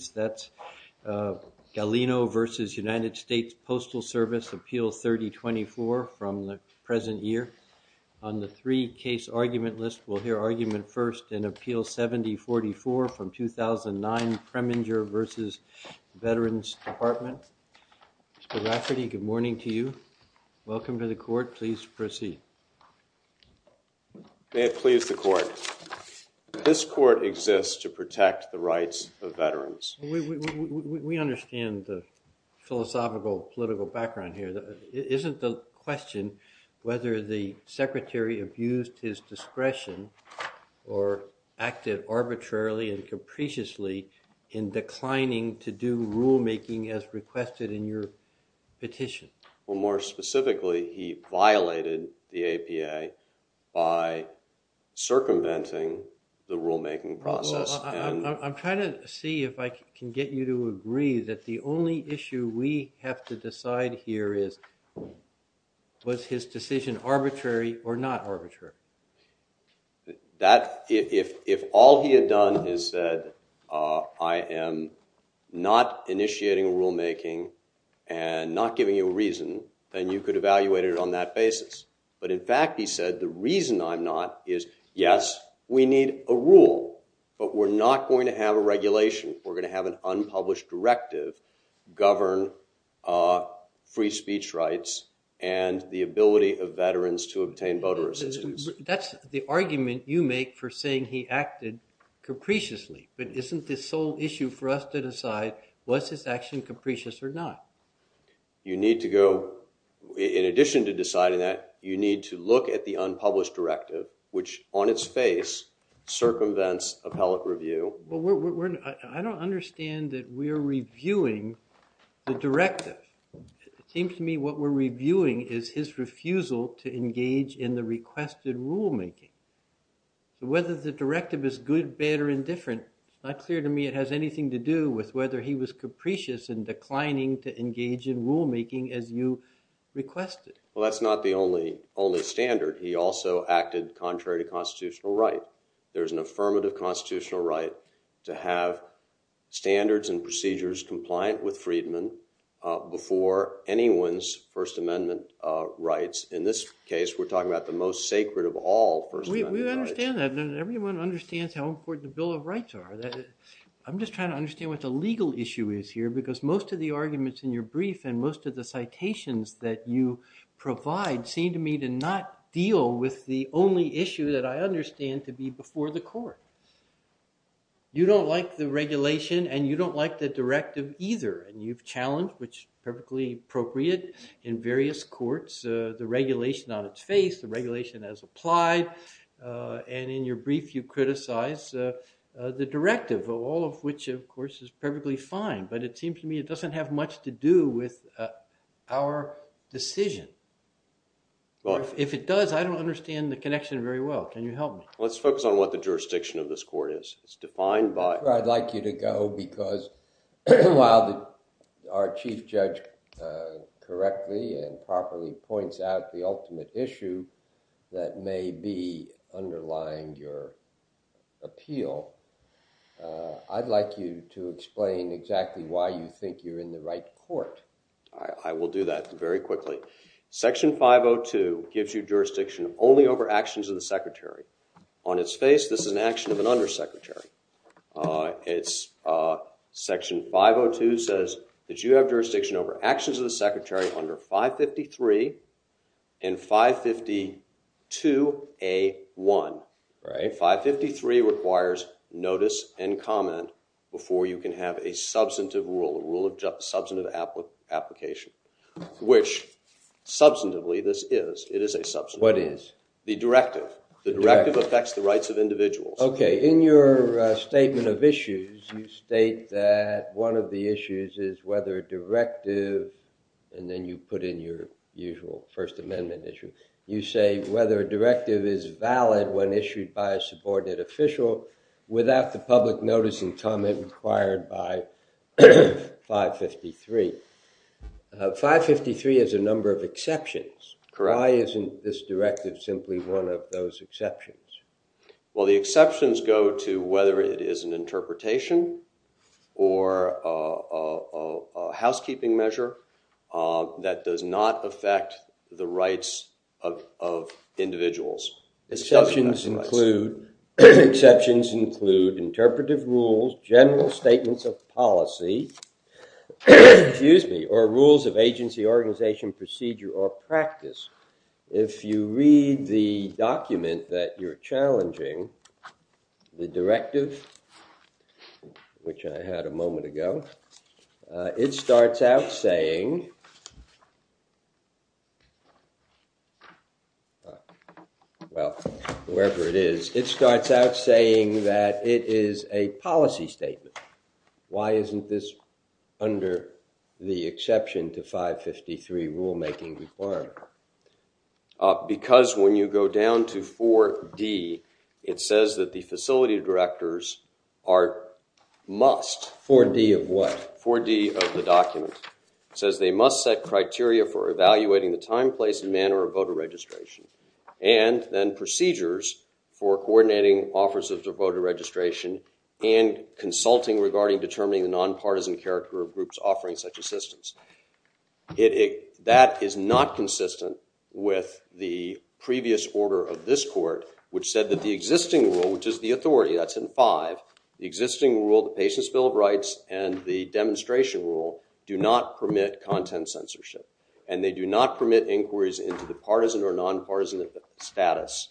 Gallino v. United States Postal Service, Appeal 3024, from the present year. On the three-case argument list, we'll hear argument first in Appeal 7044 from 2009 Preminger v. Veterans Department. Mr. Rafferty, good morning to you. Welcome to the Court. Please proceed. May it please the Court. This Court exists to protect the rights of veterans. We understand the philosophical political background here. Isn't the question whether the Secretary abused his discretion or acted arbitrarily and capriciously in declining to do rulemaking as requested in your petition? Well, more specifically, he violated the APA by circumventing the rulemaking process. I'm trying to see if I can get you to agree that the only issue we have to decide here is was his decision arbitrary or not arbitrary? If all he had done is said, I am not initiating rulemaking and not giving you a reason, then you could evaluate it on that basis. But in fact, he said, the reason I'm not is, yes, we need a rule, but we're not going to have a regulation. We're going to have an unpublished directive govern free speech rights and the ability of veterans to obtain voter assistance. That's the argument you make for saying he acted capriciously, but isn't the sole issue for us to decide was his action capricious or not? You need to go, in addition to deciding that, you need to look at the unpublished directive, which on its face circumvents appellate review. I don't understand that we're reviewing the directive. It seems to me what we're reviewing is his refusal to engage in the requested rulemaking. Whether the directive is good, bad, or indifferent, it's not clear to me it has anything to do with whether he was capricious in declining to engage in rulemaking as you requested. Well, that's not the only standard. He also acted contrary to constitutional right. There's an affirmative constitutional right to have standards and procedures compliant with Friedman before anyone's First Amendment rights. In this case, we're talking about the most sacred of all First Amendment rights. We understand that. Everyone understands how important the Bill of Rights are. I'm just trying to understand what the legal issue is here because most of the arguments in your brief and most of the citations that you provide seem to me to not deal with the only issue that I understand to be before the court. You don't like the regulation and you don't like the directive either. You've challenged, which is perfectly appropriate in various courts, the regulation on its face, the regulation as applied, and in your brief you criticize the directive, all of which of course is perfectly fine. But it seems to me it doesn't have much to do with our decision. If it does, I don't understand the connection very well. Can you help me? Let's focus on what the jurisdiction of this court is. It's defined by- I'd like you to go because while our chief judge correctly and properly points out the ultimate issue that may be underlying your appeal, I'd like you to explain exactly why you think you're in the right court. I will do that very quickly. Section 502 gives you jurisdiction only over actions of the secretary. On its face, this is an action of an undersecretary. It's section 502 says that you have jurisdiction over actions of the secretary under 553 and 552A1. 553 requires notice and comment before you can have a substantive rule, a rule of substantive application, which substantively this is. It is a substantive- What is? The directive. The directive affects the rights of individuals. Okay. In your statement of issues, you state that one of the issues is whether a directive, and then you put in your usual First Amendment issue. You say whether a directive is valid when issued by a subordinate official without the public notice and comment required by 553. 553 has a number of exceptions. Why isn't this directive simply one of those exceptions? Well, the exceptions go to whether it is an interpretation or a housekeeping measure that does not affect the rights of individuals. Exceptions include interpretive rules, general statements of policy, excuse me, or rules of agency, organization, procedure, or practice. If you read the document that you're challenging, the directive, which I had a moment ago, it starts out saying, well, whoever it is, it starts out saying that it is a policy statement. Why isn't this under the exception to 553 rulemaking requirement? Because when you go down to 4D, it says that the facility directors are must- 4D of what? 4D of the document. It says they must set criteria for evaluating the time, place, and manner of voter registration, and then procedures for coordinating offers of voter registration, and consulting regarding determining the non-partisan character of groups offering such assistance. That is not consistent with the previous order of this court, which said that the existing rule, which is the authority, that's in five. The existing rule, the patient's bill of rights, and the demonstration rule do not permit content censorship, and they do not permit inquiries into the partisan or non-partisan status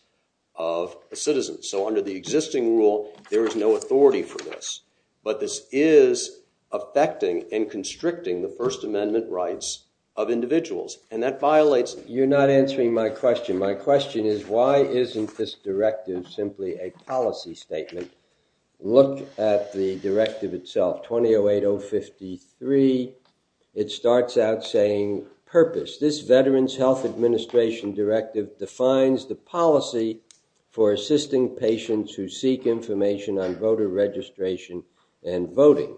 of citizens. So under the existing rule, there is no authority for this, but this is affecting and constricting the First Amendment rights of individuals, and that violates- You're not answering my question. My question is, why isn't this directive simply a policy statement? Look at the directive itself, 2008-053, it starts out saying purpose. This Veterans Health Administration Directive defines the policy for assisting patients who seek information on voter registration and voting,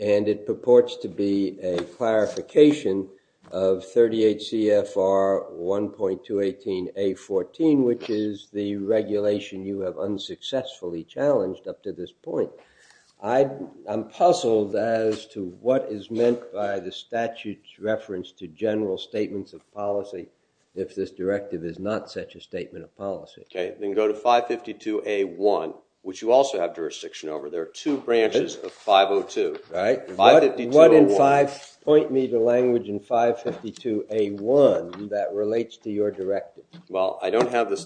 and it purports to be a clarification of 38 CFR 1.218-A14, which is the regulation you have unsuccessfully challenged up to this point. I'm puzzled as to what is meant by the statute's reference to general statements of policy if this directive is not such a statement of policy. Okay. Then go to 552-A1, which you also have jurisdiction over. There are two branches of 502. All right. 552-A1. What in five point me to language in 552-A1 that relates to your directive? Well, I don't have it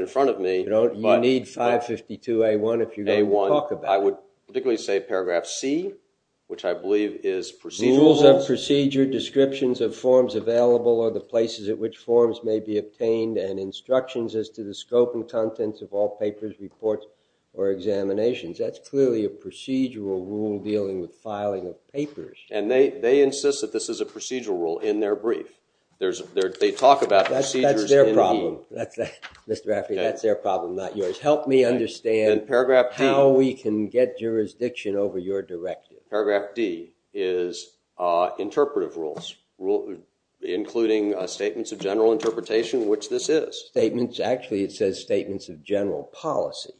in front of me. You need 552-A1 if you're going to talk about it. I would particularly say paragraph C, which I believe is procedural rules. Rules of procedure, descriptions of forms available, or the places at which forms may be obtained, and instructions as to the scope and contents of all papers, reports, or examinations. That's clearly a procedural rule dealing with filing of papers. They insist that this is a procedural rule in their brief. They talk about procedures in E. Help me understand how we can get jurisdiction over your directive. Paragraph D is interpretive rules, including statements of general interpretation, which this is. Statements? Actually, it says statements of general policy.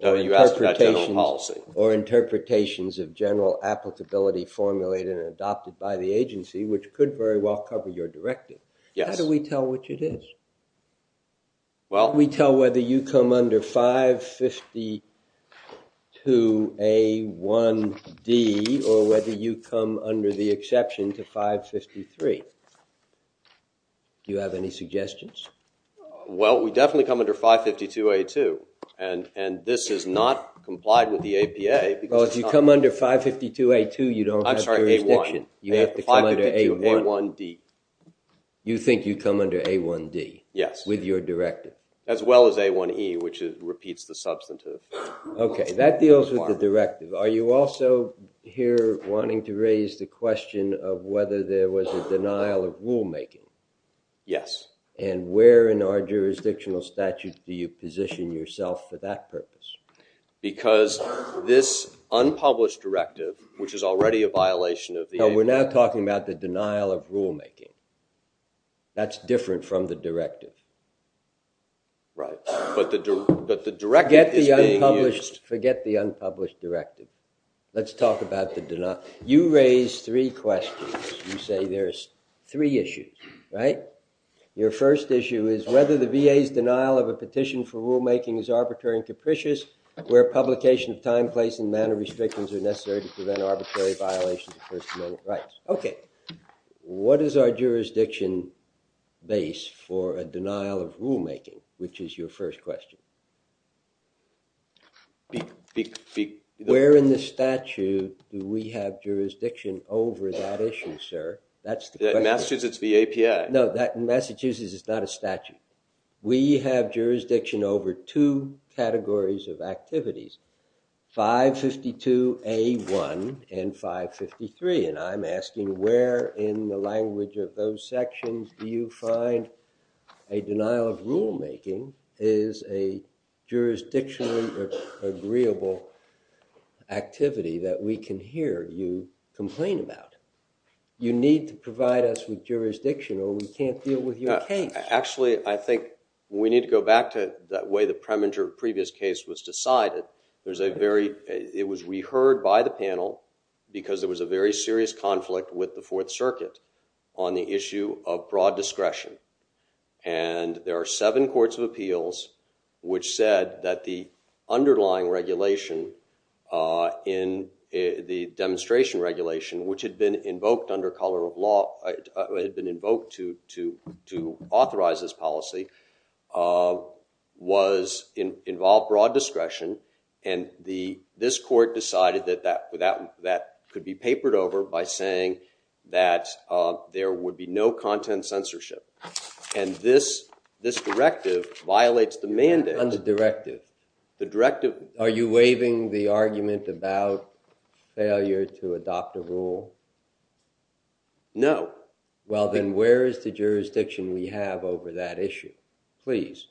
No, you asked about general policy. Or interpretations of general applicability formulated and adopted by the agency, which could very well cover your directive. Yes. How do we tell which it is? Well, we tell whether you come under 552-A1-D, or whether you come under the exception to 553. Do you have any suggestions? Well, we definitely come under 552-A2, and this is not complied with the APA. Well, if you come under 552-A2, you don't have jurisdiction. You have to come under A1-D. You think you come under A1-D? Yes. With your directive? As well as A1-E, which repeats the substantive. Okay. That deals with the directive. Are you also here wanting to raise the question of whether there was a denial of rulemaking? Yes. Where in our jurisdictional statute do you position yourself for that purpose? Because this unpublished directive, which is already a violation of the- No, we're now talking about the denial of rulemaking. That's different from the directive. Right. But the directive is being used. Forget the unpublished directive. Let's talk about the denial. You raised three questions. You say there's three issues, right? Your first issue is whether the VA's denial of a petition for rulemaking is arbitrary and capricious where publication of time, place, and manner restrictions are necessary to prevent arbitrary violations of First Amendment rights. Okay. What is our jurisdiction base for a denial of rulemaking, which is your first question? Where in the statute do we have jurisdiction over that issue, sir? That's the question. In Massachusetts, it's the API. No. In Massachusetts, it's not a statute. We have jurisdiction over two categories of activities. 552A1 and 553. And I'm asking where in the language of those sections do you find a denial of rulemaking is a jurisdictional or agreeable activity that we can hear you complain about? You need to provide us with jurisdictional. We can't deal with your case. Actually, I think we need to go back to that way the premature previous case was decided. It was re-heard by the panel because there was a very serious conflict with the Fourth Circuit on the issue of broad discretion. And there are seven courts of appeals which said that the underlying regulation in the demonstration regulation, which had been invoked to authorize this policy, was involved broad discretion. And this court decided that that could be papered over by saying that there would be no content censorship. And this directive violates the mandate. On the directive? The directive. Are you waiving the argument about failure to adopt a rule? No. Well, then where is the jurisdiction we have over that issue? Please,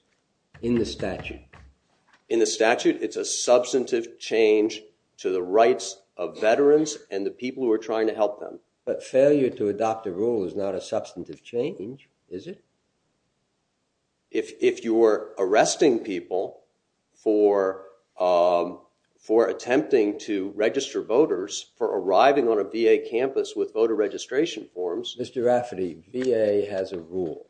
in the statute. In the statute, it's a substantive change to the rights of veterans and the people who are trying to help them. But failure to adopt a rule is not a substantive change, is it? If you are arresting people for attempting to register voters, for arriving on a BA campus with voter registration forms. Mr. Rafferty, BA has a rule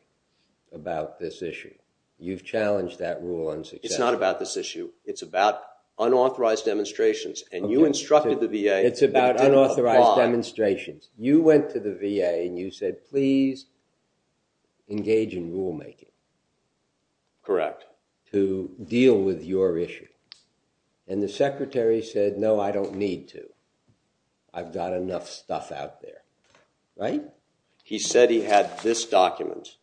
about this issue. You've challenged that rule on success. It's not about this issue. It's about unauthorized demonstrations. And you instructed the VA to apply. It's about unauthorized demonstrations. You went to the VA and you said, please engage in rule making. Correct. To deal with your issues. And the secretary said, no, I don't need to. I've got enough stuff out there. Right? He said he had this document.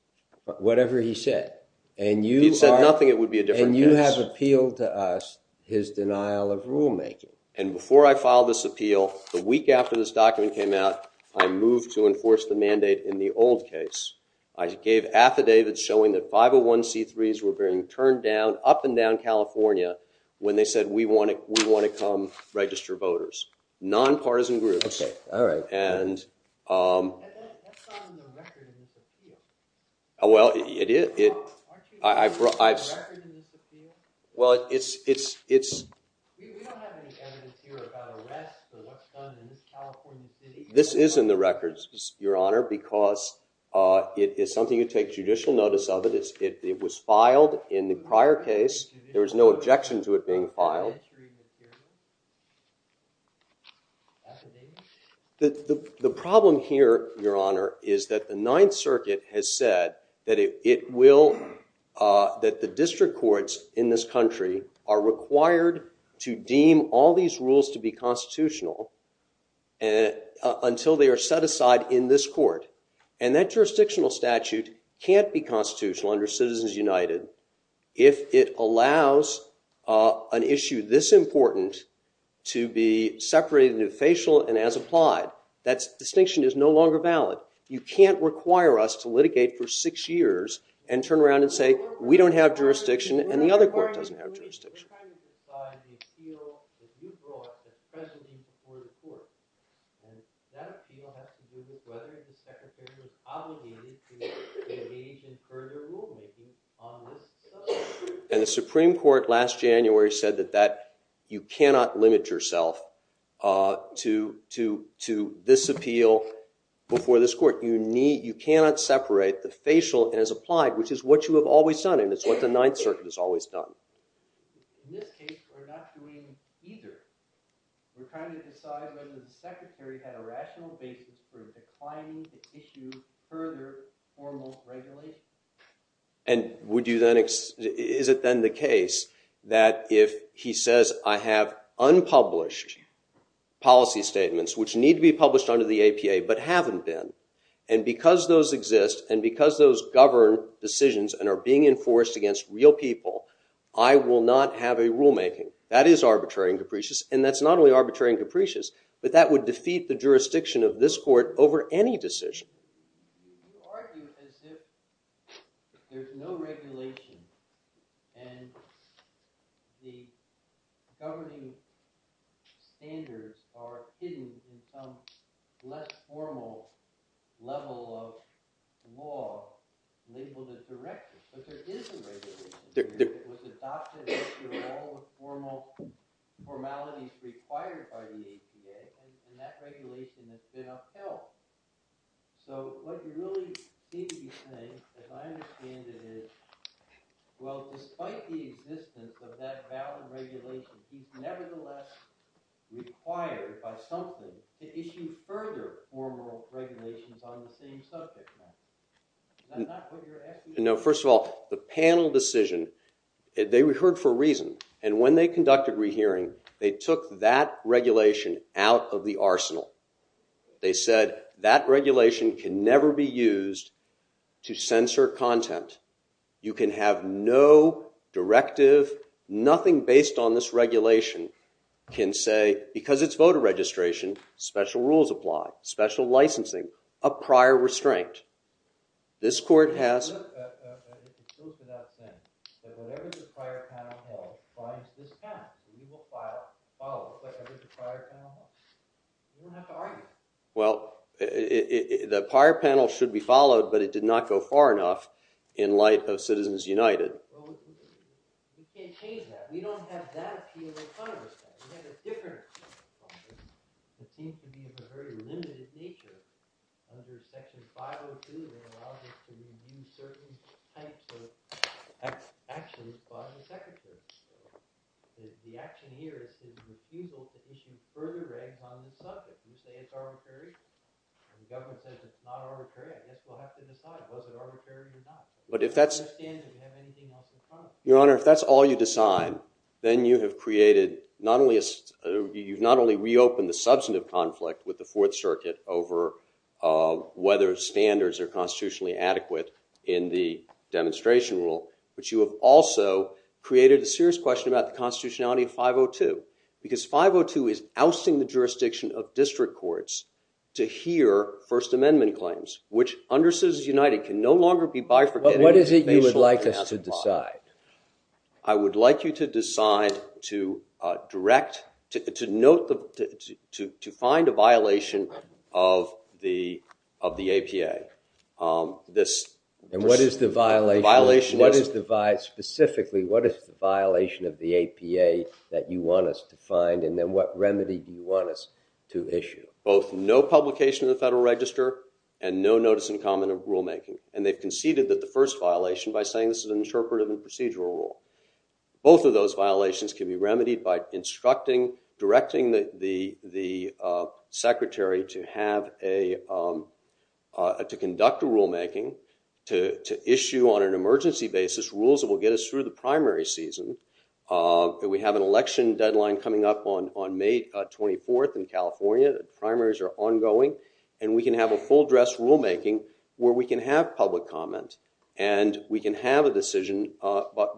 Whatever he said. And you are- He said nothing, it would be a different case. And you have appealed to us his denial of rule making. And before I filed this appeal, the week after this document came out, I moved to enforce the mandate in the old case. I gave affidavits showing that 501c3s were being turned down, up and down California, when they said, we want to come register voters. Non-partisan groups. Okay, all right. And- And that's not in the record in this appeal. Well, it is, it- Aren't you saying it's in the record in this appeal? Well, it's- We don't have any evidence here about arrests or what's done in this California city. This is in the records, Your Honor, because it is something you take judicial notice of it, it was filed in the prior case, there was no objection to it being The problem here, Your Honor, is that the Ninth Circuit has said that it will, that the district courts in this country are required to deem all these rules to be constitutional until they are set aside in this court. And that jurisdictional statute can't be constitutional under Citizens United if it allows an issue this important to be separated into facial and as applied, that distinction is no longer valid. You can't require us to litigate for six years and turn around and say we don't have jurisdiction and the other court doesn't have jurisdiction. What kind of defies the appeal that you brought as president before the court? And that appeal has to do with whether the secretary was obligated to engage in further rule making on this subject. And the Supreme Court last January said that that you cannot limit yourself to this appeal before this court. You need, you cannot separate the facial as applied, which is what you have always done, and it's what the Ninth Circuit has always done. In this case, we're not doing either. We're trying to decide whether the secretary had a rational basis for declining to issue further formal regulations. And would you then, is it then the case that if he says I have unpublished policy statements which need to be published under the APA but haven't been, and because those exist, and because those govern decisions and are being enforced against real people, I will not have a rule making. That is arbitrary and capricious, and that's not only arbitrary and capricious, but that would defeat the jurisdiction of this court over any decision. You argue as if there's no regulation and the governing standards are hidden in some less formal level of law labeled as directed. But there is a regulation. There, there. With the doctrine that there are all the formal, formalities required by the APA. And that regulation has been upheld. So what you really need to be saying, as I understand it, is, well, despite the existence of that valid regulation, he's nevertheless required by something to issue further formal regulations on the same subject matter. Is that not what you're asking? No, first of all, the panel decision, they heard for a reason. And when they conducted rehearing, they took that regulation out of the arsenal. They said, that regulation can never be used to censor content. You can have no directive, nothing based on this regulation can say, because it's voter registration, special rules apply, special licensing, a prior restraint, this court has. Well, if it goes to that extent, that whatever the prior panel held finds this panel, we will file, follow whatever the prior panel held. We don't have to argue. Well, it, it, it, the prior panel should be followed, but it did not go far enough in light of Citizens United. Well, we, we, we can't change that. We don't have that appeal in front of us now. We have a different, it seems to be of a very limited nature. Under section 502, it allows us to use certain types of act, actions by the Secretary of State. The action here is to refusal to issue further regulations on the subject. You say it's arbitrary, and the government says it's not arbitrary. I guess we'll have to decide, was it arbitrary or not? But if that's- I don't understand that we have anything else in front of us. Your Honor, if that's all you decide, then you have created not only a, you've not only reopened the substantive conflict with the Fourth Circuit over whether standards are constitutionally adequate in the demonstration rule, but you have also created a serious question about the constitutionality of 502. Because 502 is ousting the jurisdiction of district courts to hear First Amendment claims, which under Citizens United can no longer be bifurcated. But what is it you would like us to decide? I would like you to decide to direct, to, to note the, to, to find a violation of the, of the APA. This- And what is the violation? The violation is- What is the vi- Specifically, what is the violation of the APA that you want us to find? And then what remedy do you want us to issue? Both no publication of the Federal Register and no notice in common of rulemaking. And they've conceded that the first violation by saying this is an interpretive and procedural rule. Both of those violations can be remedied by instructing, directing the, the, the secretary to have a to conduct a rulemaking. To, to issue on an emergency basis rules that will get us through the primary season. That we have an election deadline coming up on, on May 24th in California. The primaries are ongoing. And we can have a full dress rulemaking where we can have public comment. And we can have a decision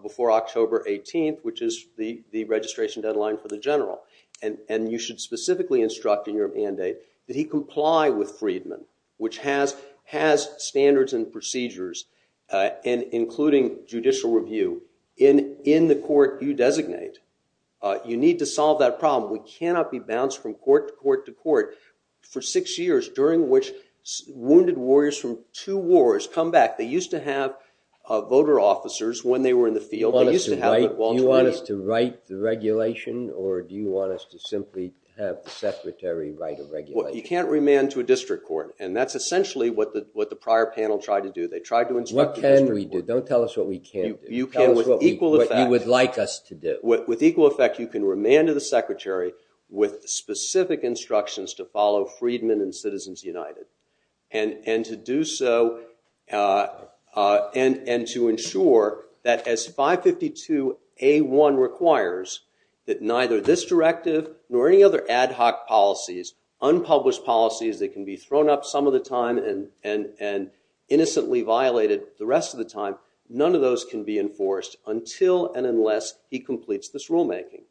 before October 18th, which is the, the registration deadline for the general. And, and you should specifically instruct in your mandate that he comply with Freedman, which has, has standards and procedures. And including judicial review in, in the court you designate. You need to solve that problem. We cannot be bounced from court to court to court for six years during which wounded warriors from two wars come back. They used to have voter officers when they were in the field. They used to have- Do you want us to write the regulation or do you want us to simply have the secretary write a regulation? Well, you can't remand to a district court. And that's essentially what the, what the prior panel tried to do. They tried to instruct the district court. What can we do? Don't tell us what we can't do. You can with equal effect. Tell us what we, what you would like us to do. With, with equal effect, you can remand to the secretary. With specific instructions to follow Freedman and Citizens United. And, and to do so and, and to ensure that as 552A1 requires. That neither this directive, nor any other ad hoc policies, unpublished policies that can be thrown up some of the time and, and, and innocently violated the rest of the time. None of those can be enforced until and unless he completes this rulemaking.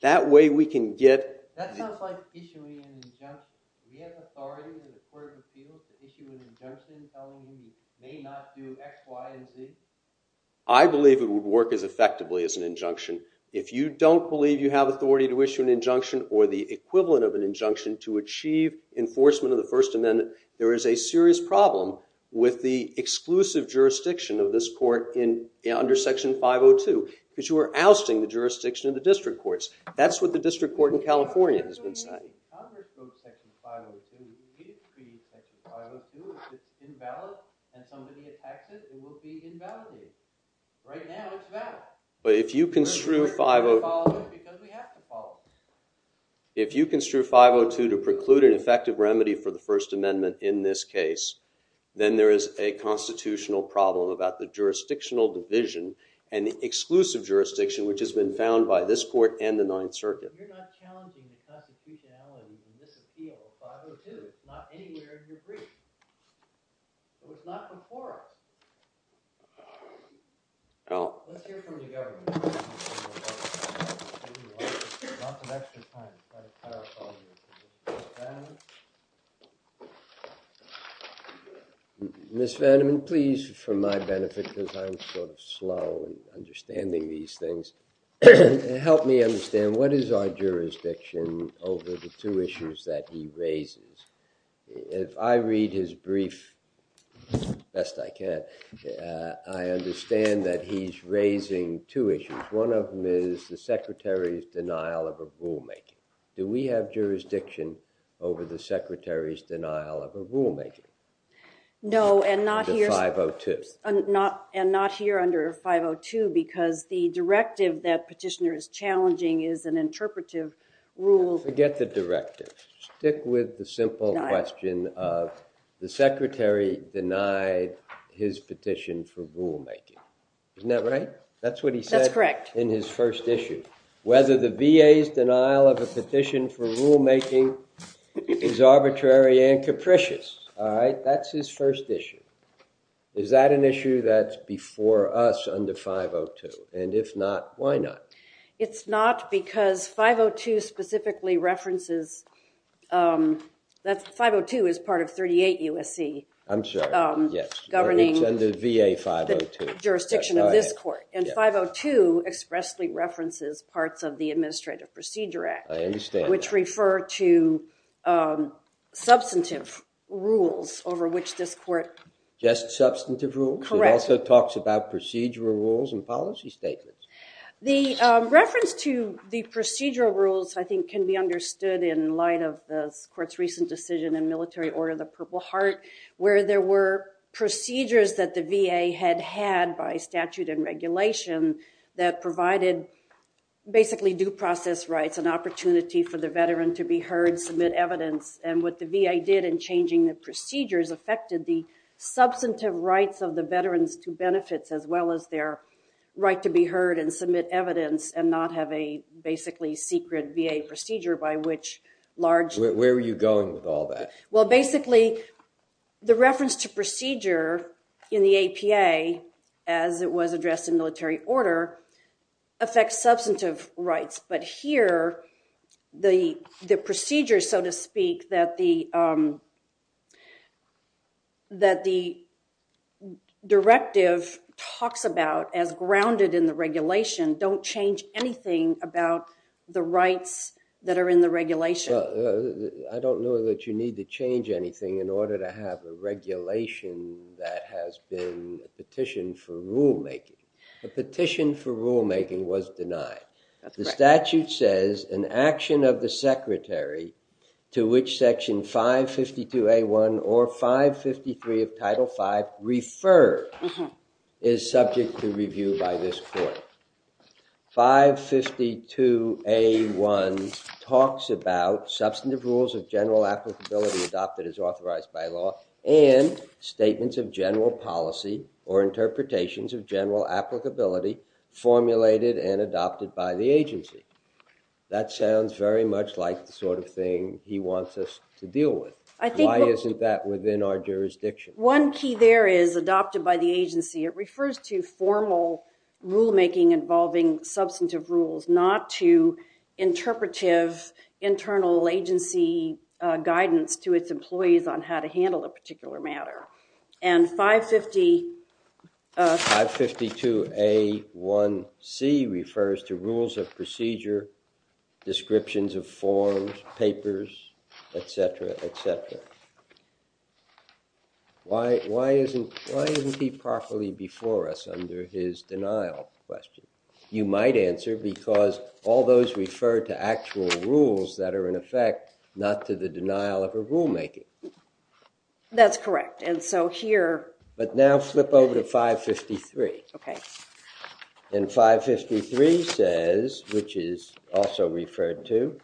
That way we can get- That sounds like issuing an injunction. Do we have authority in the court of appeals to issue an injunction telling him he may not do X, Y, and Z? I believe it would work as effectively as an injunction. If you don't believe you have authority to issue an injunction or the equivalent of an injunction to achieve enforcement of the first amendment, there is a serious problem with the exclusive jurisdiction of this court in, under section 502, because you are ousting the jurisdiction of the district courts. That's what the district court in California has been saying. So you, Congress wrote section 502, you issued section 502, it's invalid. And somebody attacks it, it will be invalidated. Right now it's valid. But if you construe 502- Because we have to follow it. If you construe 502 to preclude an effective remedy for the first amendment in this case, then there is a constitutional problem about the jurisdictional division and the exclusive jurisdiction, which has been found by this court and the Ninth Circuit. You're not challenging the constitutionality in this appeal of 502. It's not anywhere in the brief. It was not before. I'll- Let's hear from the government. Lots of extra time. Miss Vanderman, please, for my benefit because I'm sort of slow in understanding these things, help me understand what is our jurisdiction over the two issues that he raises. If I read his brief, best I can, I understand that he's raising two issues. One of them is the secretary's denial of a rulemaking. Do we have jurisdiction over the secretary's denial of a rulemaking? No, and not here- Under 502. And not here under 502 because the directive that petitioner is challenging is an interpretive rule- Forget the directive. Stick with the simple question of the secretary denying his petition for rulemaking. Isn't that right? That's what he said- That's correct. In his first issue. Whether the VA's denial of a petition for rulemaking is arbitrary and capricious, all right? That's his first issue. Is that an issue that's before us under 502? And if not, why not? It's not because 502 specifically references, 502 is part of 38 USC- I'm sorry, yes. Governing- It's under VA 502. Jurisdiction of this court. And 502 expressly references parts of the Administrative Procedure Act. I understand that. Which refer to substantive rules over which this court- Just substantive rules? Correct. It also talks about procedural rules and policy statements. The reference to the procedural rules, I think, can be understood in light of this court's recent decision in Military Order of the Purple Heart, where there were procedures that the VA had had by statute and regulation that provided basically due process rights and opportunity for the veteran to be heard, submit evidence. And what the VA did in changing the procedures affected the substantive rights of the veterans to benefits as well as their right to be heard and submit evidence and not have a basically secret VA procedure by which large- Where were you going with all that? Well, basically, the reference to procedure in the APA, as it was addressed in military order, affects substantive rights. But here, the procedure, so to speak, that the directive talks about as grounded in the regulation, don't change anything about the rights that are in the regulation. Well, I don't know that you need to change anything in order to have a regulation that has been petitioned for rulemaking. The petition for rulemaking was denied. That's correct. The statute says, an action of the secretary to which section 552A1 or 553 of Title V referred is subject to review by this court. 552A1 talks about substantive rules of general applicability adopted as authorized by law and statements of general policy or interpretations of general applicability formulated and that sounds very much like the sort of thing he wants us to deal with. I think- Why isn't that within our jurisdiction? One key there is adopted by the agency. It refers to formal rulemaking involving substantive rules, not to interpretive internal agency guidance to its employees on how to handle a particular matter. And 550- 552A1C refers to rules of procedure descriptions of forms, papers, etc., etc. Why isn't he properly before us under his denial question? You might answer because all those refer to actual rules that are in effect, not to the denial of a rulemaker. That's correct, and so here- But now flip over to 553. Okay. In 553 says, which is also referred to,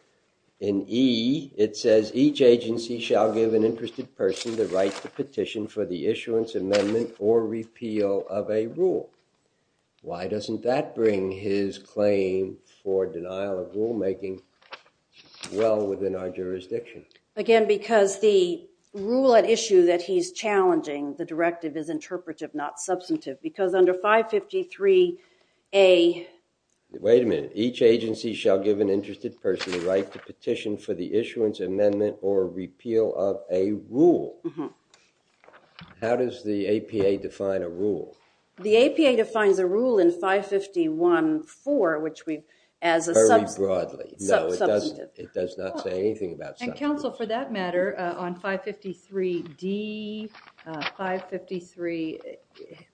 in E it says, each agency shall give an interested person the right to petition for the issuance, amendment, or repeal of a rule. Why doesn't that bring his claim for denial of rulemaking well within our jurisdiction? Again, because the rule at issue that he's challenging, the directive is interpretive, not substantive. Because under 553A- Wait a minute. Each agency shall give an interested person the right to petition for the issuance, amendment, or repeal of a rule. How does the APA define a rule? The APA defines a rule in 551-4, which we've- Very broadly. No, it doesn't. It does not say anything about- And counsel, for that matter, on 553D, 553,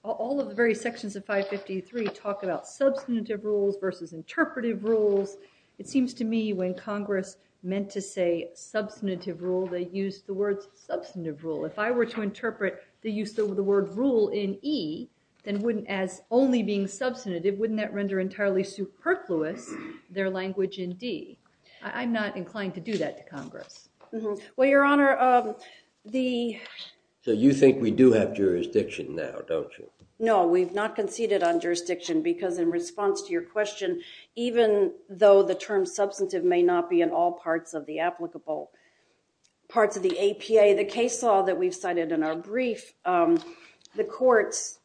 all of the very sections of 553 talk about substantive rules versus interpretive rules. It seems to me when Congress meant to say substantive rule, they used the words substantive rule. If I were to interpret the use of the word rule in E, then wouldn't as only being substantive, wouldn't that render entirely superfluous their language in D? I'm not inclined to do that to Congress. Well, Your Honor, the- So you think we do have jurisdiction now, don't you? No, we've not conceded on jurisdiction because in response to your question, even though the term substantive may not be in all parts of the applicable, parts of the APA, the case law that we've cited in our brief, the courts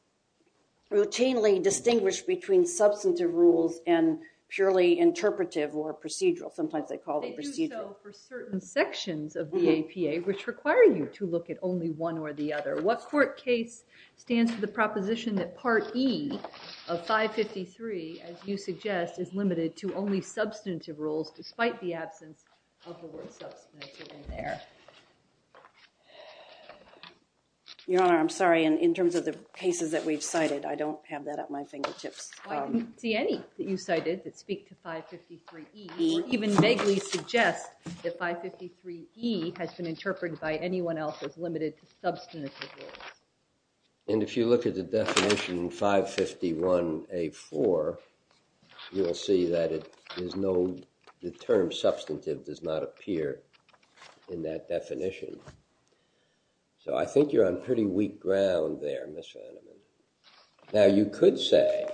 routinely distinguish between substantive rules and purely interpretive or procedural. Sometimes they call it procedural. So for certain sections of the APA, which require you to look at only one or the other, what court case stands to the proposition that part E of 553, as you suggest, is limited to only substantive rules despite the absence of the word substantive in there? Your Honor, I'm sorry. In terms of the cases that we've cited, I don't have that at my fingertips. I didn't see any that you cited that speak to 553E, or even vaguely suggest that 553E has been interpreted by anyone else as limited to substantive rules. If you look at the definition in 551A4, you'll see that the term substantive does not appear in that definition. So I think you're on pretty weak ground there, Ms. Vanderman. Now, you could say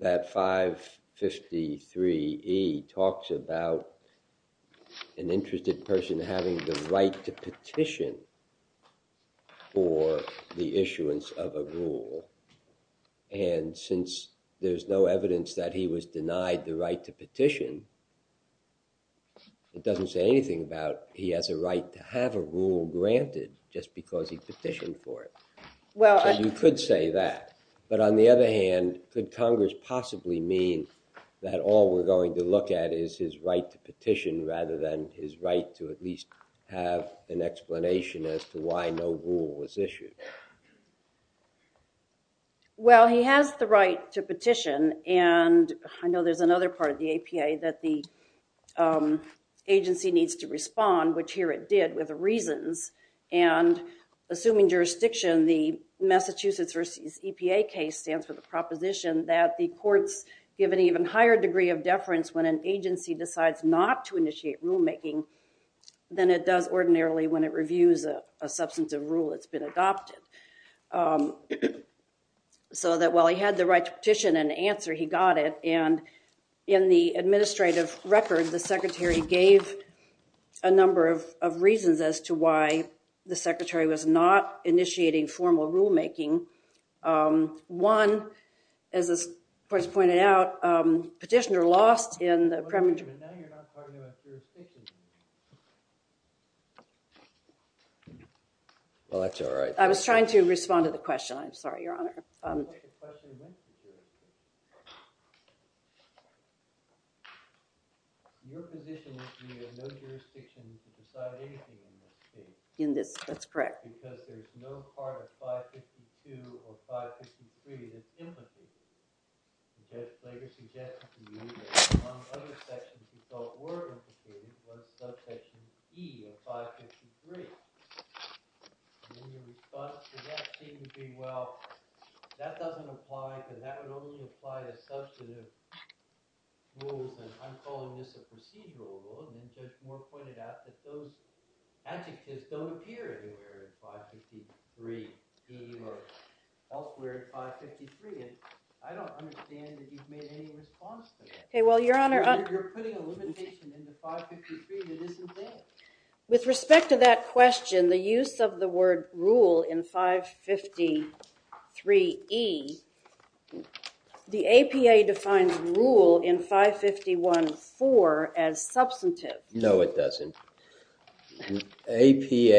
that 553E talks about an interested person having the right to petition for the issuance of a rule. And since there's no evidence that he was denied the right to petition, it doesn't say anything about he has a right to have a rule granted just because he petitioned for it. So you could say that. But on the other hand, could Congress possibly mean that all we're going to look at is his right to petition rather than his right to at least have an explanation as to why no rule was issued? Well, he has the right to petition, and I know there's another part of the APA that the agency needs to respond, which here it did, with the reasons. And assuming jurisdiction, the Massachusetts v. EPA case stands for the proposition that the courts give an even higher degree of deference when an agency decides not to initiate rulemaking than it does ordinarily when it reviews a substantive rule that's been adopted. So that while he had the right to petition and answer, he got it. And in the administrative record, the secretary gave a number of reasons as to why the secretary was not initiating formal rulemaking. One, as the court has pointed out, petitioner lost in the premature... Well, that's all right. I was trying to respond to the question, I'm sorry, Your Honor. In this, that's correct. The logic is don't appear anywhere in 553E or elsewhere in 553, and I don't understand that you've made any response to that. Okay, well, Your Honor, I'm... You're putting a limitation in the 553 that isn't there. With respect to that question, the use of the word rule in 553E, the APA defines rule in 551-4 as substantive. No, it doesn't. The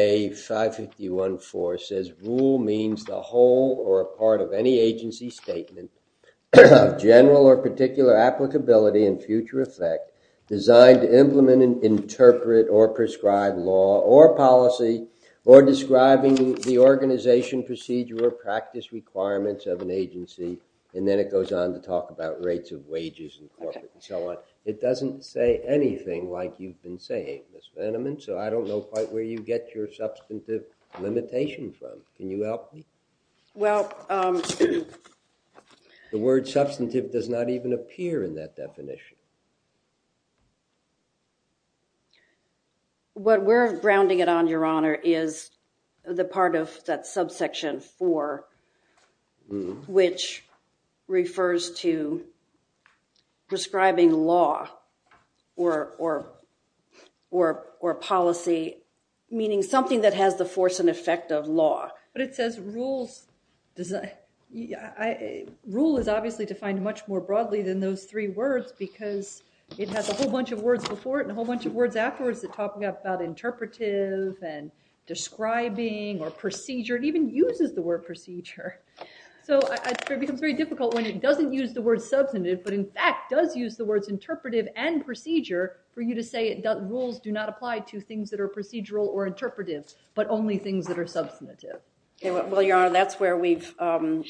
APA 551-4 says rule means the whole or a part of any agency statement, general or particular applicability in future effect, designed to implement and interpret or prescribe law or policy, or describing the organization procedure or practice requirements of an agency. And then it goes on to talk about rates of wages and so on. It doesn't say anything like you've been saying, Ms. Vanneman, so I don't know quite where you get your substantive limitation from. Can you help me? Well... The word substantive does not even appear in that definition. What we're grounding it on, Your Honor, is the part of that subsection 4, which refers to prescribing law or policy, meaning something that has the force and effect of law. But it says rules... Rule is obviously defined much more broadly than those three words because it has a whole bunch of words before it and a whole bunch of words afterwards that talk about interpretive and describing or procedure. It even uses the word procedure. So it becomes very difficult when it doesn't use the word substantive, but in fact does use the words interpretive and procedure for you to say that rules do not apply to things that are procedural or interpretive, but only things that are substantive. Well, Your Honor, that's where we've... Where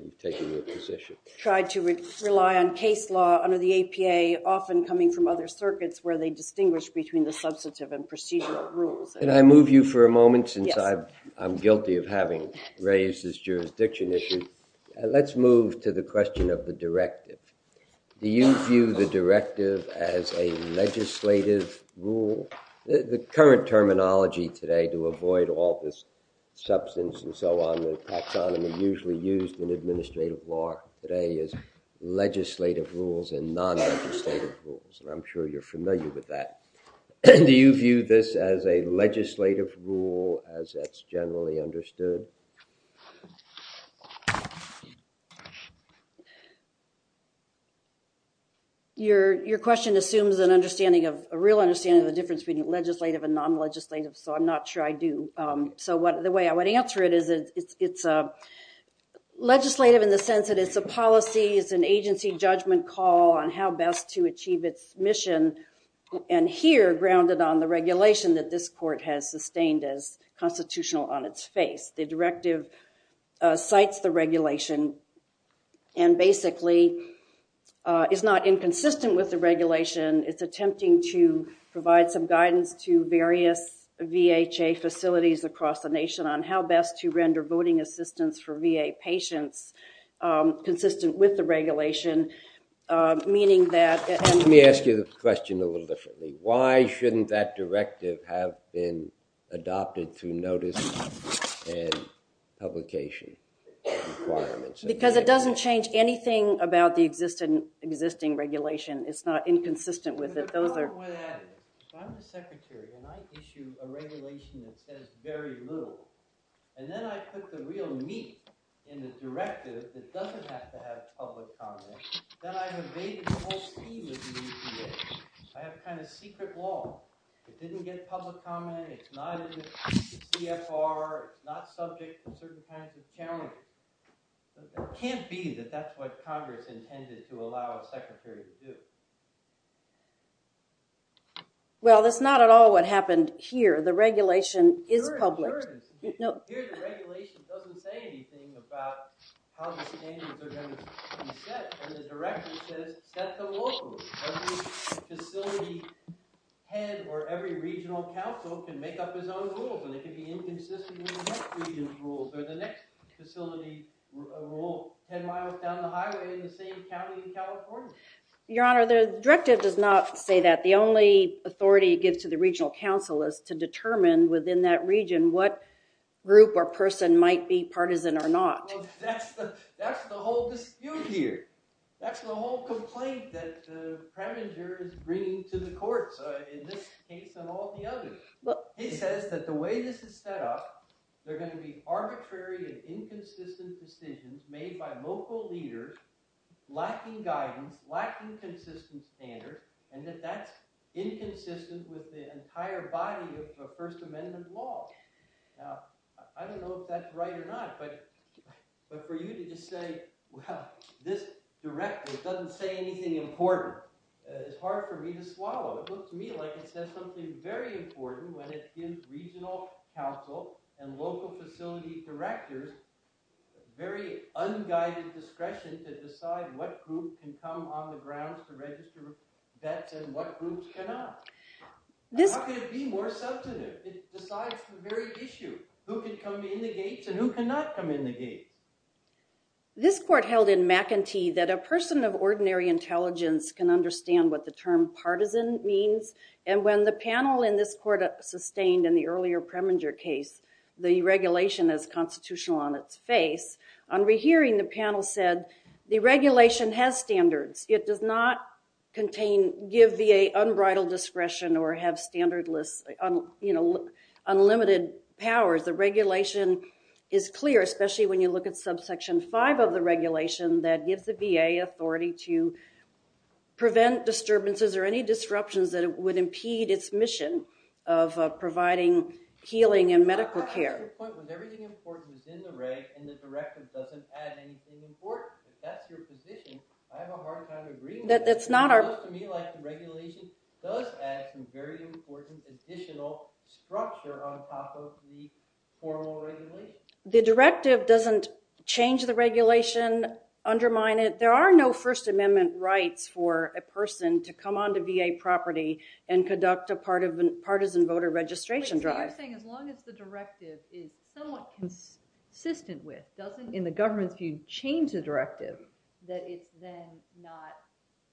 you've taken your position. ...tried to rely on case law under the APA, often coming from other circuits where they distinguish between the substantive and procedural rules. Can I move you for a moment since I'm guilty of having raised this jurisdiction issue? Let's move to the question of the directive. Do you view the directive as a legislative rule? The current terminology today to avoid all this substance and so on, the taxonomy usually used in administrative law today is legislative rules and non-legislative rules. And I'm sure you're familiar with that. Do you view this as a legislative rule as it's generally understood? Your question assumes an understanding of... a real understanding of the difference between legislative and non-legislative. So I'm not sure I do. So the way I would answer it is it's legislative in the sense that it's a policy, it's an agency judgment call on how best to achieve its mission. And here, grounded on the regulation that this court has sustained as constitutional on its face. The directive cites the regulation and basically is not inconsistent with the regulation. It's attempting to provide some guidance to various VHA facilities across the nation on how best to render voting assistance for VA patients consistent with the regulation, meaning that... Let me ask you the question a little differently. Why shouldn't that directive have been adopted through notice and publication requirements? Because it doesn't change anything about the existing regulation. It's not inconsistent with it. Those are... If I'm the secretary and I issue a regulation that says very little and then I put the real meat in the directive that doesn't have to have public comment, then I've evaded the whole scheme of the VHA. I have kind of secret law. It didn't get public comment, it's not in the CFR, not subject to certain kinds of challenges. It can't be that that's what Congress intended to allow a secretary to do. Well, that's not at all what happened here. The regulation is public. Here the regulation doesn't say anything about how the standards are going to be set. And the directive says, set the rules. Every facility head or every regional council can make up his own rules and it can be inconsistent with the next region's rules or the next facility rule. Ten miles down the highway in the same county in California. Your Honor, the directive does not say that. The only authority it gives to the regional council is to determine within that region what group or person might be partisan or not. Well, that's the whole dispute here. That's the whole complaint that the prime minister is bringing to the courts in this case and all the others. He says that the way this is set up, there are going to be arbitrary and inconsistent decisions made by local leaders, lacking guidance, lacking consistent standards, and that that's inconsistent with the entire body of the First Amendment law. Now, I don't know if that's right or not, but for you to just say, well, this directive doesn't say anything important, it's hard for me to swallow. It looks to me like it says something very important when it gives regional council and local facility directors very unguided discretion to decide what group can come on the grounds to register with VET and what group cannot. How could it be more substantive? It decides the very issue. Who can come in the gates and who cannot come in the gates? This court held in McEntee that a person of ordinary intelligence can understand what the term partisan means. And when the panel in this court sustained in the earlier Preminger case the regulation as constitutional on its face, on rehearing the panel said, the regulation has standards. It does not give VA unbridled discretion or have unlimited powers. The regulation is clear, especially when you look at subsection 5 of the regulation that gives the VA authority to prevent disturbances or any disruptions that would impede its mission of providing healing and medical care. Your point was everything important is in the reg and the directive doesn't add anything important. If that's your position, I have a hard time agreeing with it. It looks to me like the regulation does add some very important additional structure on top of the formal regulation. The directive doesn't change the regulation, undermine it. There are no First Amendment rights for a person to come onto VA property and conduct a partisan voter registration drive. I'm saying as long as the directive is somewhat consistent with, doesn't in the government's view change the directive, that it's then not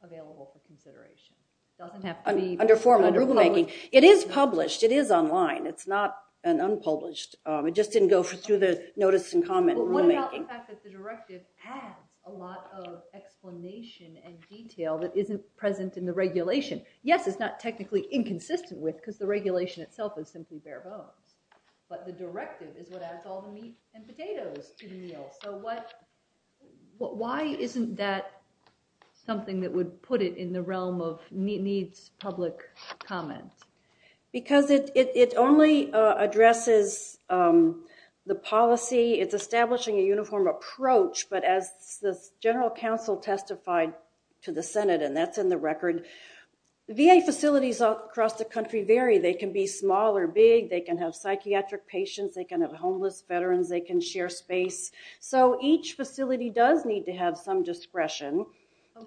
available for consideration. It doesn't have to be under formal rulemaking. It is published, it is online. It's not an unpublished. It just didn't go through the notice and comment rulemaking. What about the fact that the directive has a lot of explanation and detail that isn't present in the regulation? Yes, it's not technically inconsistent with because the regulation itself is simply bare bones. But the directive is what adds all the meat and potatoes to the meal. So why isn't that something that would put it in the realm of needs public comment? Because it only addresses the policy. It's establishing a uniform approach. But as the general counsel testified to the Senate, and that's in the record, VA facilities across the country vary. They can be small or big. They can have psychiatric patients. They can have homeless veterans. They can share space. So each facility does need to have some discretion.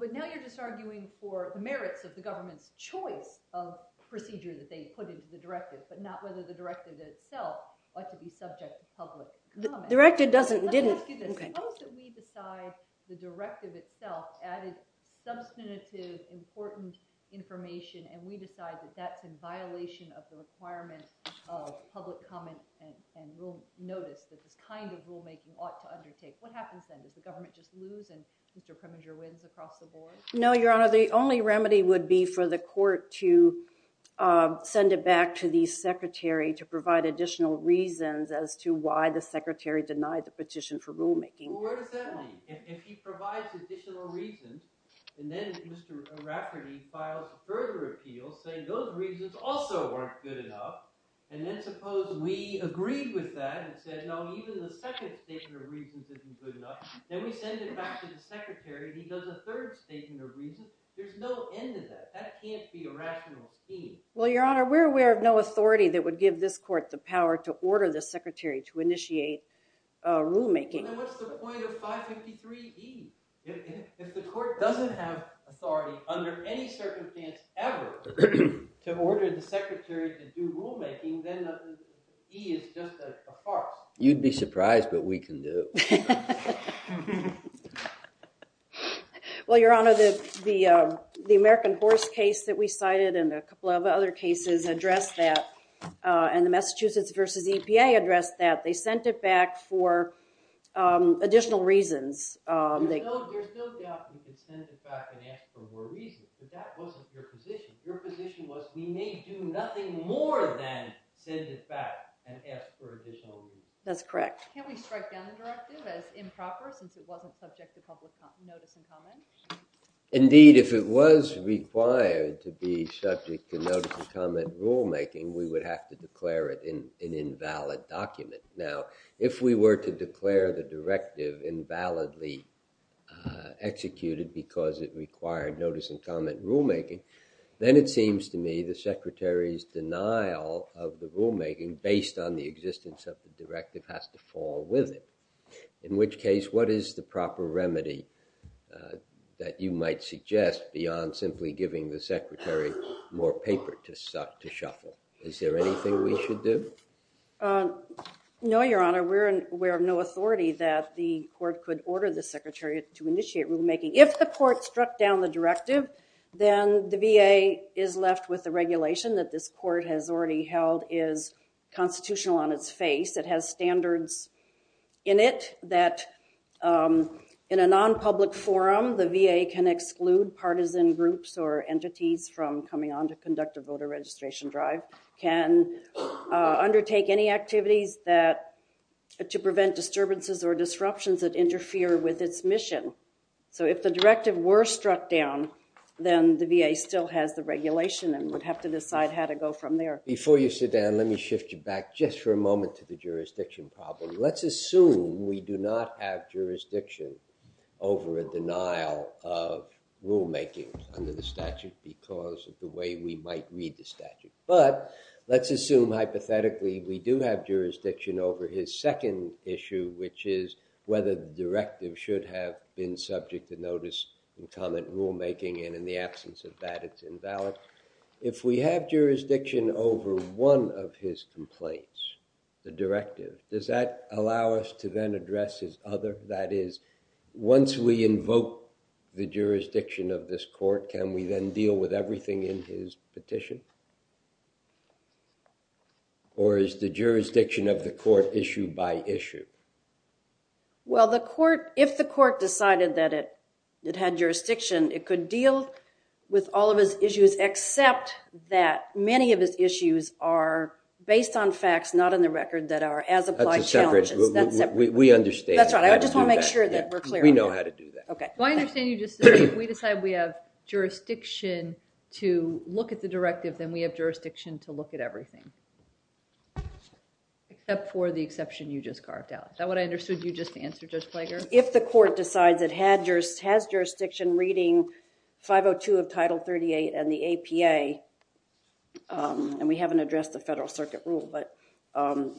But now you're just arguing for the merits of the government's choice of procedure that they put into the directive, but not whether the directive itself ought to be subject to public comment. The directive doesn't, didn't. Suppose that we decide the directive itself added substantive, important information, and we decide that that's in violation of the requirements of public comment and will notice that this kind of rulemaking ought to undertake. What happens then? Does the government just lose and Mr. Preminger wins across the board? No, Your Honor. The only remedy would be for the court to send it back to the secretary to provide additional reasons as to why the secretary denied the petition for rulemaking. Well, where does that leave? If he provides additional reasons, and then Mr. Rafferty files a further appeal saying those reasons also weren't good enough, and then suppose we agreed with that and said, no, even the second statement of reasons isn't good enough, then we send it back to the secretary. He does a third statement of reasons. There's no end to that. That can't be a rational scheme. Well, Your Honor, we're aware of no authority that would give this court the power to order the secretary to initiate rulemaking. Well, then what's the point of 553E? If the court doesn't have authority under any circumstance ever to order the secretary to do rulemaking, then E is just a farce. You'd be surprised, but we can do it. Well, Your Honor, the American horse case that we cited and a couple of other cases address that. And the Massachusetts v. EPA addressed that. They sent it back for additional reasons. There's no doubt we could send it back and ask for more reasons, but that wasn't your position. Your position was we may do nothing more than send it back and ask for additional reasons. That's correct. Can we strike down the directive as improper, since it wasn't subject to public notice and comment? Indeed, if it was required to be subject to notice and comment rulemaking, we would have to declare it an invalid document. Now, if we were to declare the directive invalidly executed because it required notice and comment rulemaking, then it seems to me the secretary's denial of the rulemaking, based on the existence of the directive, has to fall with it. In which case, what is the proper remedy that you might suggest beyond simply giving the secretary more paper to shuffle? Is there anything we should do? No, Your Honor. We're aware of no authority that the court could order the secretary to initiate rulemaking. If the court struck down the directive, then the VA is left with the regulation that this court has already held is constitutional on its face. It has standards in it that, in a non-public forum, the VA can exclude partisan groups or entities from coming on to conduct a voter registration drive, can undertake any activities to prevent disturbances or disruptions that interfere with its mission. So if the directive were struck down, then the VA still has the regulation and would have to decide how to go from there. Before you sit down, let me shift you back just for a moment to the jurisdiction problem. Let's assume we do not have jurisdiction over a denial of rulemaking under the statute because of the way we might read the statute. But let's assume, hypothetically, we do have jurisdiction over his second issue, which is whether the directive should have been subject to notice and comment rulemaking. And in the absence of that, it's invalid. If we have jurisdiction over one of his complaints, the directive, does that allow us to then address his other? That is, once we invoke the jurisdiction of this court, can we then deal with everything in his petition? Or is the jurisdiction of the court issue by issue? Well, if the court decided that it had jurisdiction, it could deal with all of his issues, except that many of his issues are based on facts, not on the record, that are as applied challenges. That's a separate issue. We understand. That's right. I just want to make sure that we're clear on that. We know how to do that. OK. Well, I understand you just said, if we decide we have jurisdiction to look at the directive, then we have jurisdiction to look at everything, except for the exception you just carved out. Is that what I understood you just answered, Judge Flager? If the court decides it has jurisdiction reading 502 of Title 38 and the APA, and we haven't addressed the Federal Circuit rule, but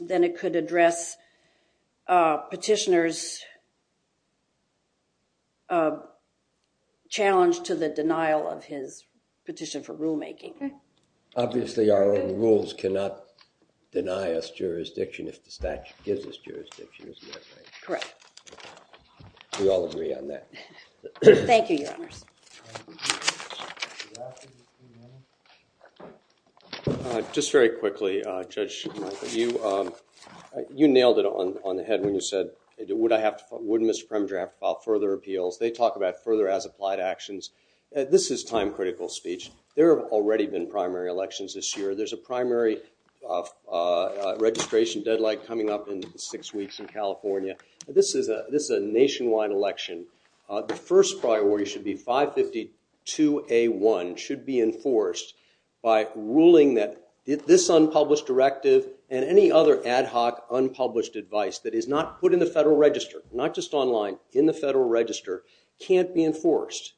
then it could address petitioner's challenge to the denial of his petition for rulemaking. Obviously, our own rules cannot deny us jurisdiction if the statute gives us jurisdiction, is that right? We all agree on that. Thank you, Your Honors. All right. Just very quickly, Judge Schumacher, you nailed it on the head when you said, wouldn't the Supreme Court have to file further appeals? They talk about further as-applied actions. This is time-critical speech. There have already been primary elections this year. There's a primary registration deadline coming up in six weeks in California. This is a nationwide election. The first priority should be 552A1 should be enforced by ruling that this unpublished directive and any other ad hoc unpublished advice that is not put in the Federal Register, not just online, in the Federal Register, can't be enforced.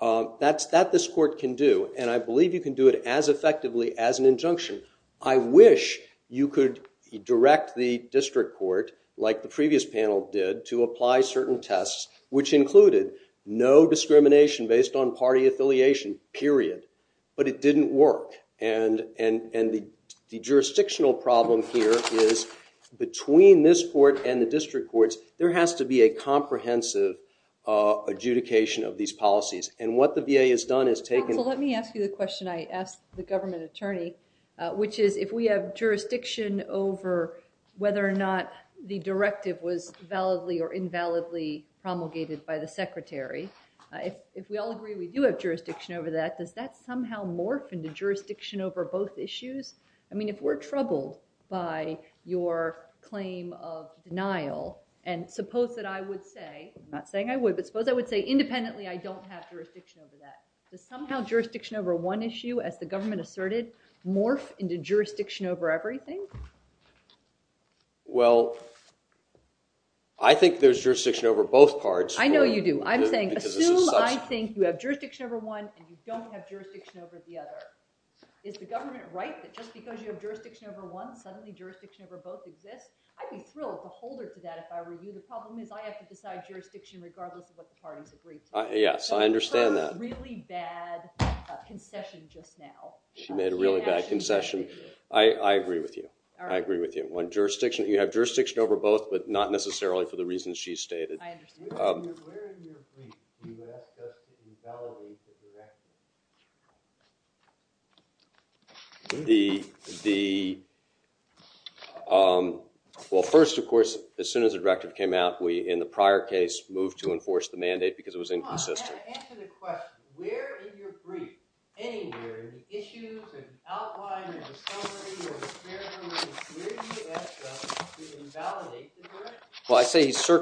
That's that this court can do. And I believe you can do it as effectively as an injunction. I wish you could direct the district court, like the previous panel did, to apply certain tests, which included no discrimination based on party affiliation, period. But it didn't work. And the jurisdictional problem here is, between this court and the district courts, there has to be a comprehensive adjudication of these policies. And what the VA has done is taken- Counsel, let me ask you the question I asked the government attorney, which is, if we have jurisdiction over whether or not the directive was validly or invalidly promulgated by the secretary, if we all agree we do have jurisdiction over that, does that somehow morph into jurisdiction over both issues? I mean, if we're troubled by your claim of denial, and suppose that I would say, not saying I would, but suppose I would say, independently, I don't have jurisdiction over that, does somehow jurisdiction over one issue, as the government asserted, morph into jurisdiction over everything? Well, I think there's jurisdiction over both parts. I know you do. I'm saying, assume I think you have jurisdiction over one, and you don't have jurisdiction over the other. Is the government right that just because you have jurisdiction over one, suddenly jurisdiction over both exists? I'd be thrilled to hold her to that if I were you. The problem is, I have to decide jurisdiction, regardless of what the parties agree to. Yes, I understand that. That was her really bad concession just now. She made a really bad concession. I agree with you. I agree with you. You have jurisdiction over both, but not necessarily for the reasons she's stated. I understand. Where in your brief do you access the authority of the director? Well, first, of course, as soon as the director came out, we, in the prior case, moved to enforce the mandate, because it was inconsistent. Answer the question. Where in your brief, anywhere, are the issues and outline and the summary or the scenario where you access to invalidate the director?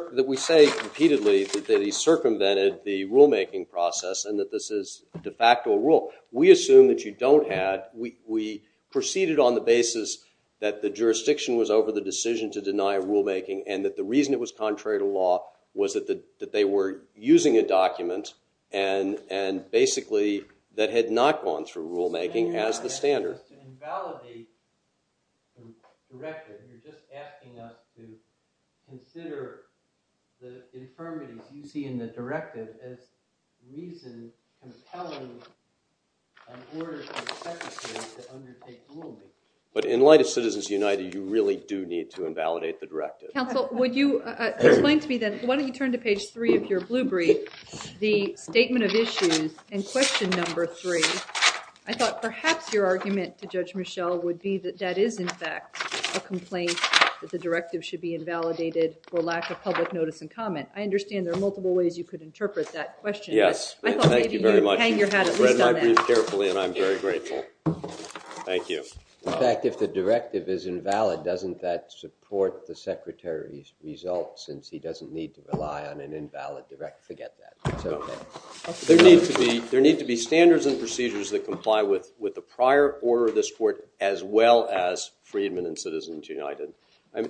Well, we say repeatedly that he circumvented the rulemaking process and that this is de facto a rule. We assume that you don't have. We proceeded on the basis that the jurisdiction was over the decision to deny rulemaking, and that the reason it was contrary to law was that they were using a document, and basically, that had not gone through rulemaking as the standard. So you're not asking us to invalidate the directive. You're just asking us to consider the infirmities you see in the directive as reasons compelling an order to the secretary to undertake rulemaking. But in light of Citizens United, you really do need to invalidate the directive. Counsel, would you explain to me, then, why don't you turn to page three of your blue brief, the statement of issues, and question number three. I thought perhaps your argument to Judge Michel would be that that is, in fact, a complaint that the directive should be invalidated for lack of public notice and comment. I understand there are multiple ways you could interpret that question. Yes. I thought maybe you would hang your hat at least on that. You've read my brief carefully, and I'm very grateful. Thank you. In fact, if the directive is invalid, doesn't that support the secretary's results, since he doesn't need to rely on an invalid directive? Forget that. It's OK. There need to be standards and procedures that comply with the prior order of this court, as well as Freedmen and Citizens United.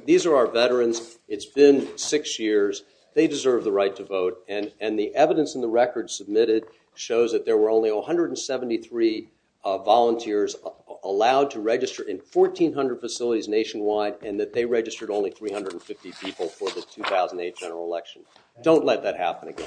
These are our veterans. It's been six years. They deserve the right to vote. And the evidence in the record submitted shows that there were only 173 volunteers allowed to register in 1,400 facilities nationwide, and that they registered only 350 people for the 2008 general election. Don't let that happen again, please.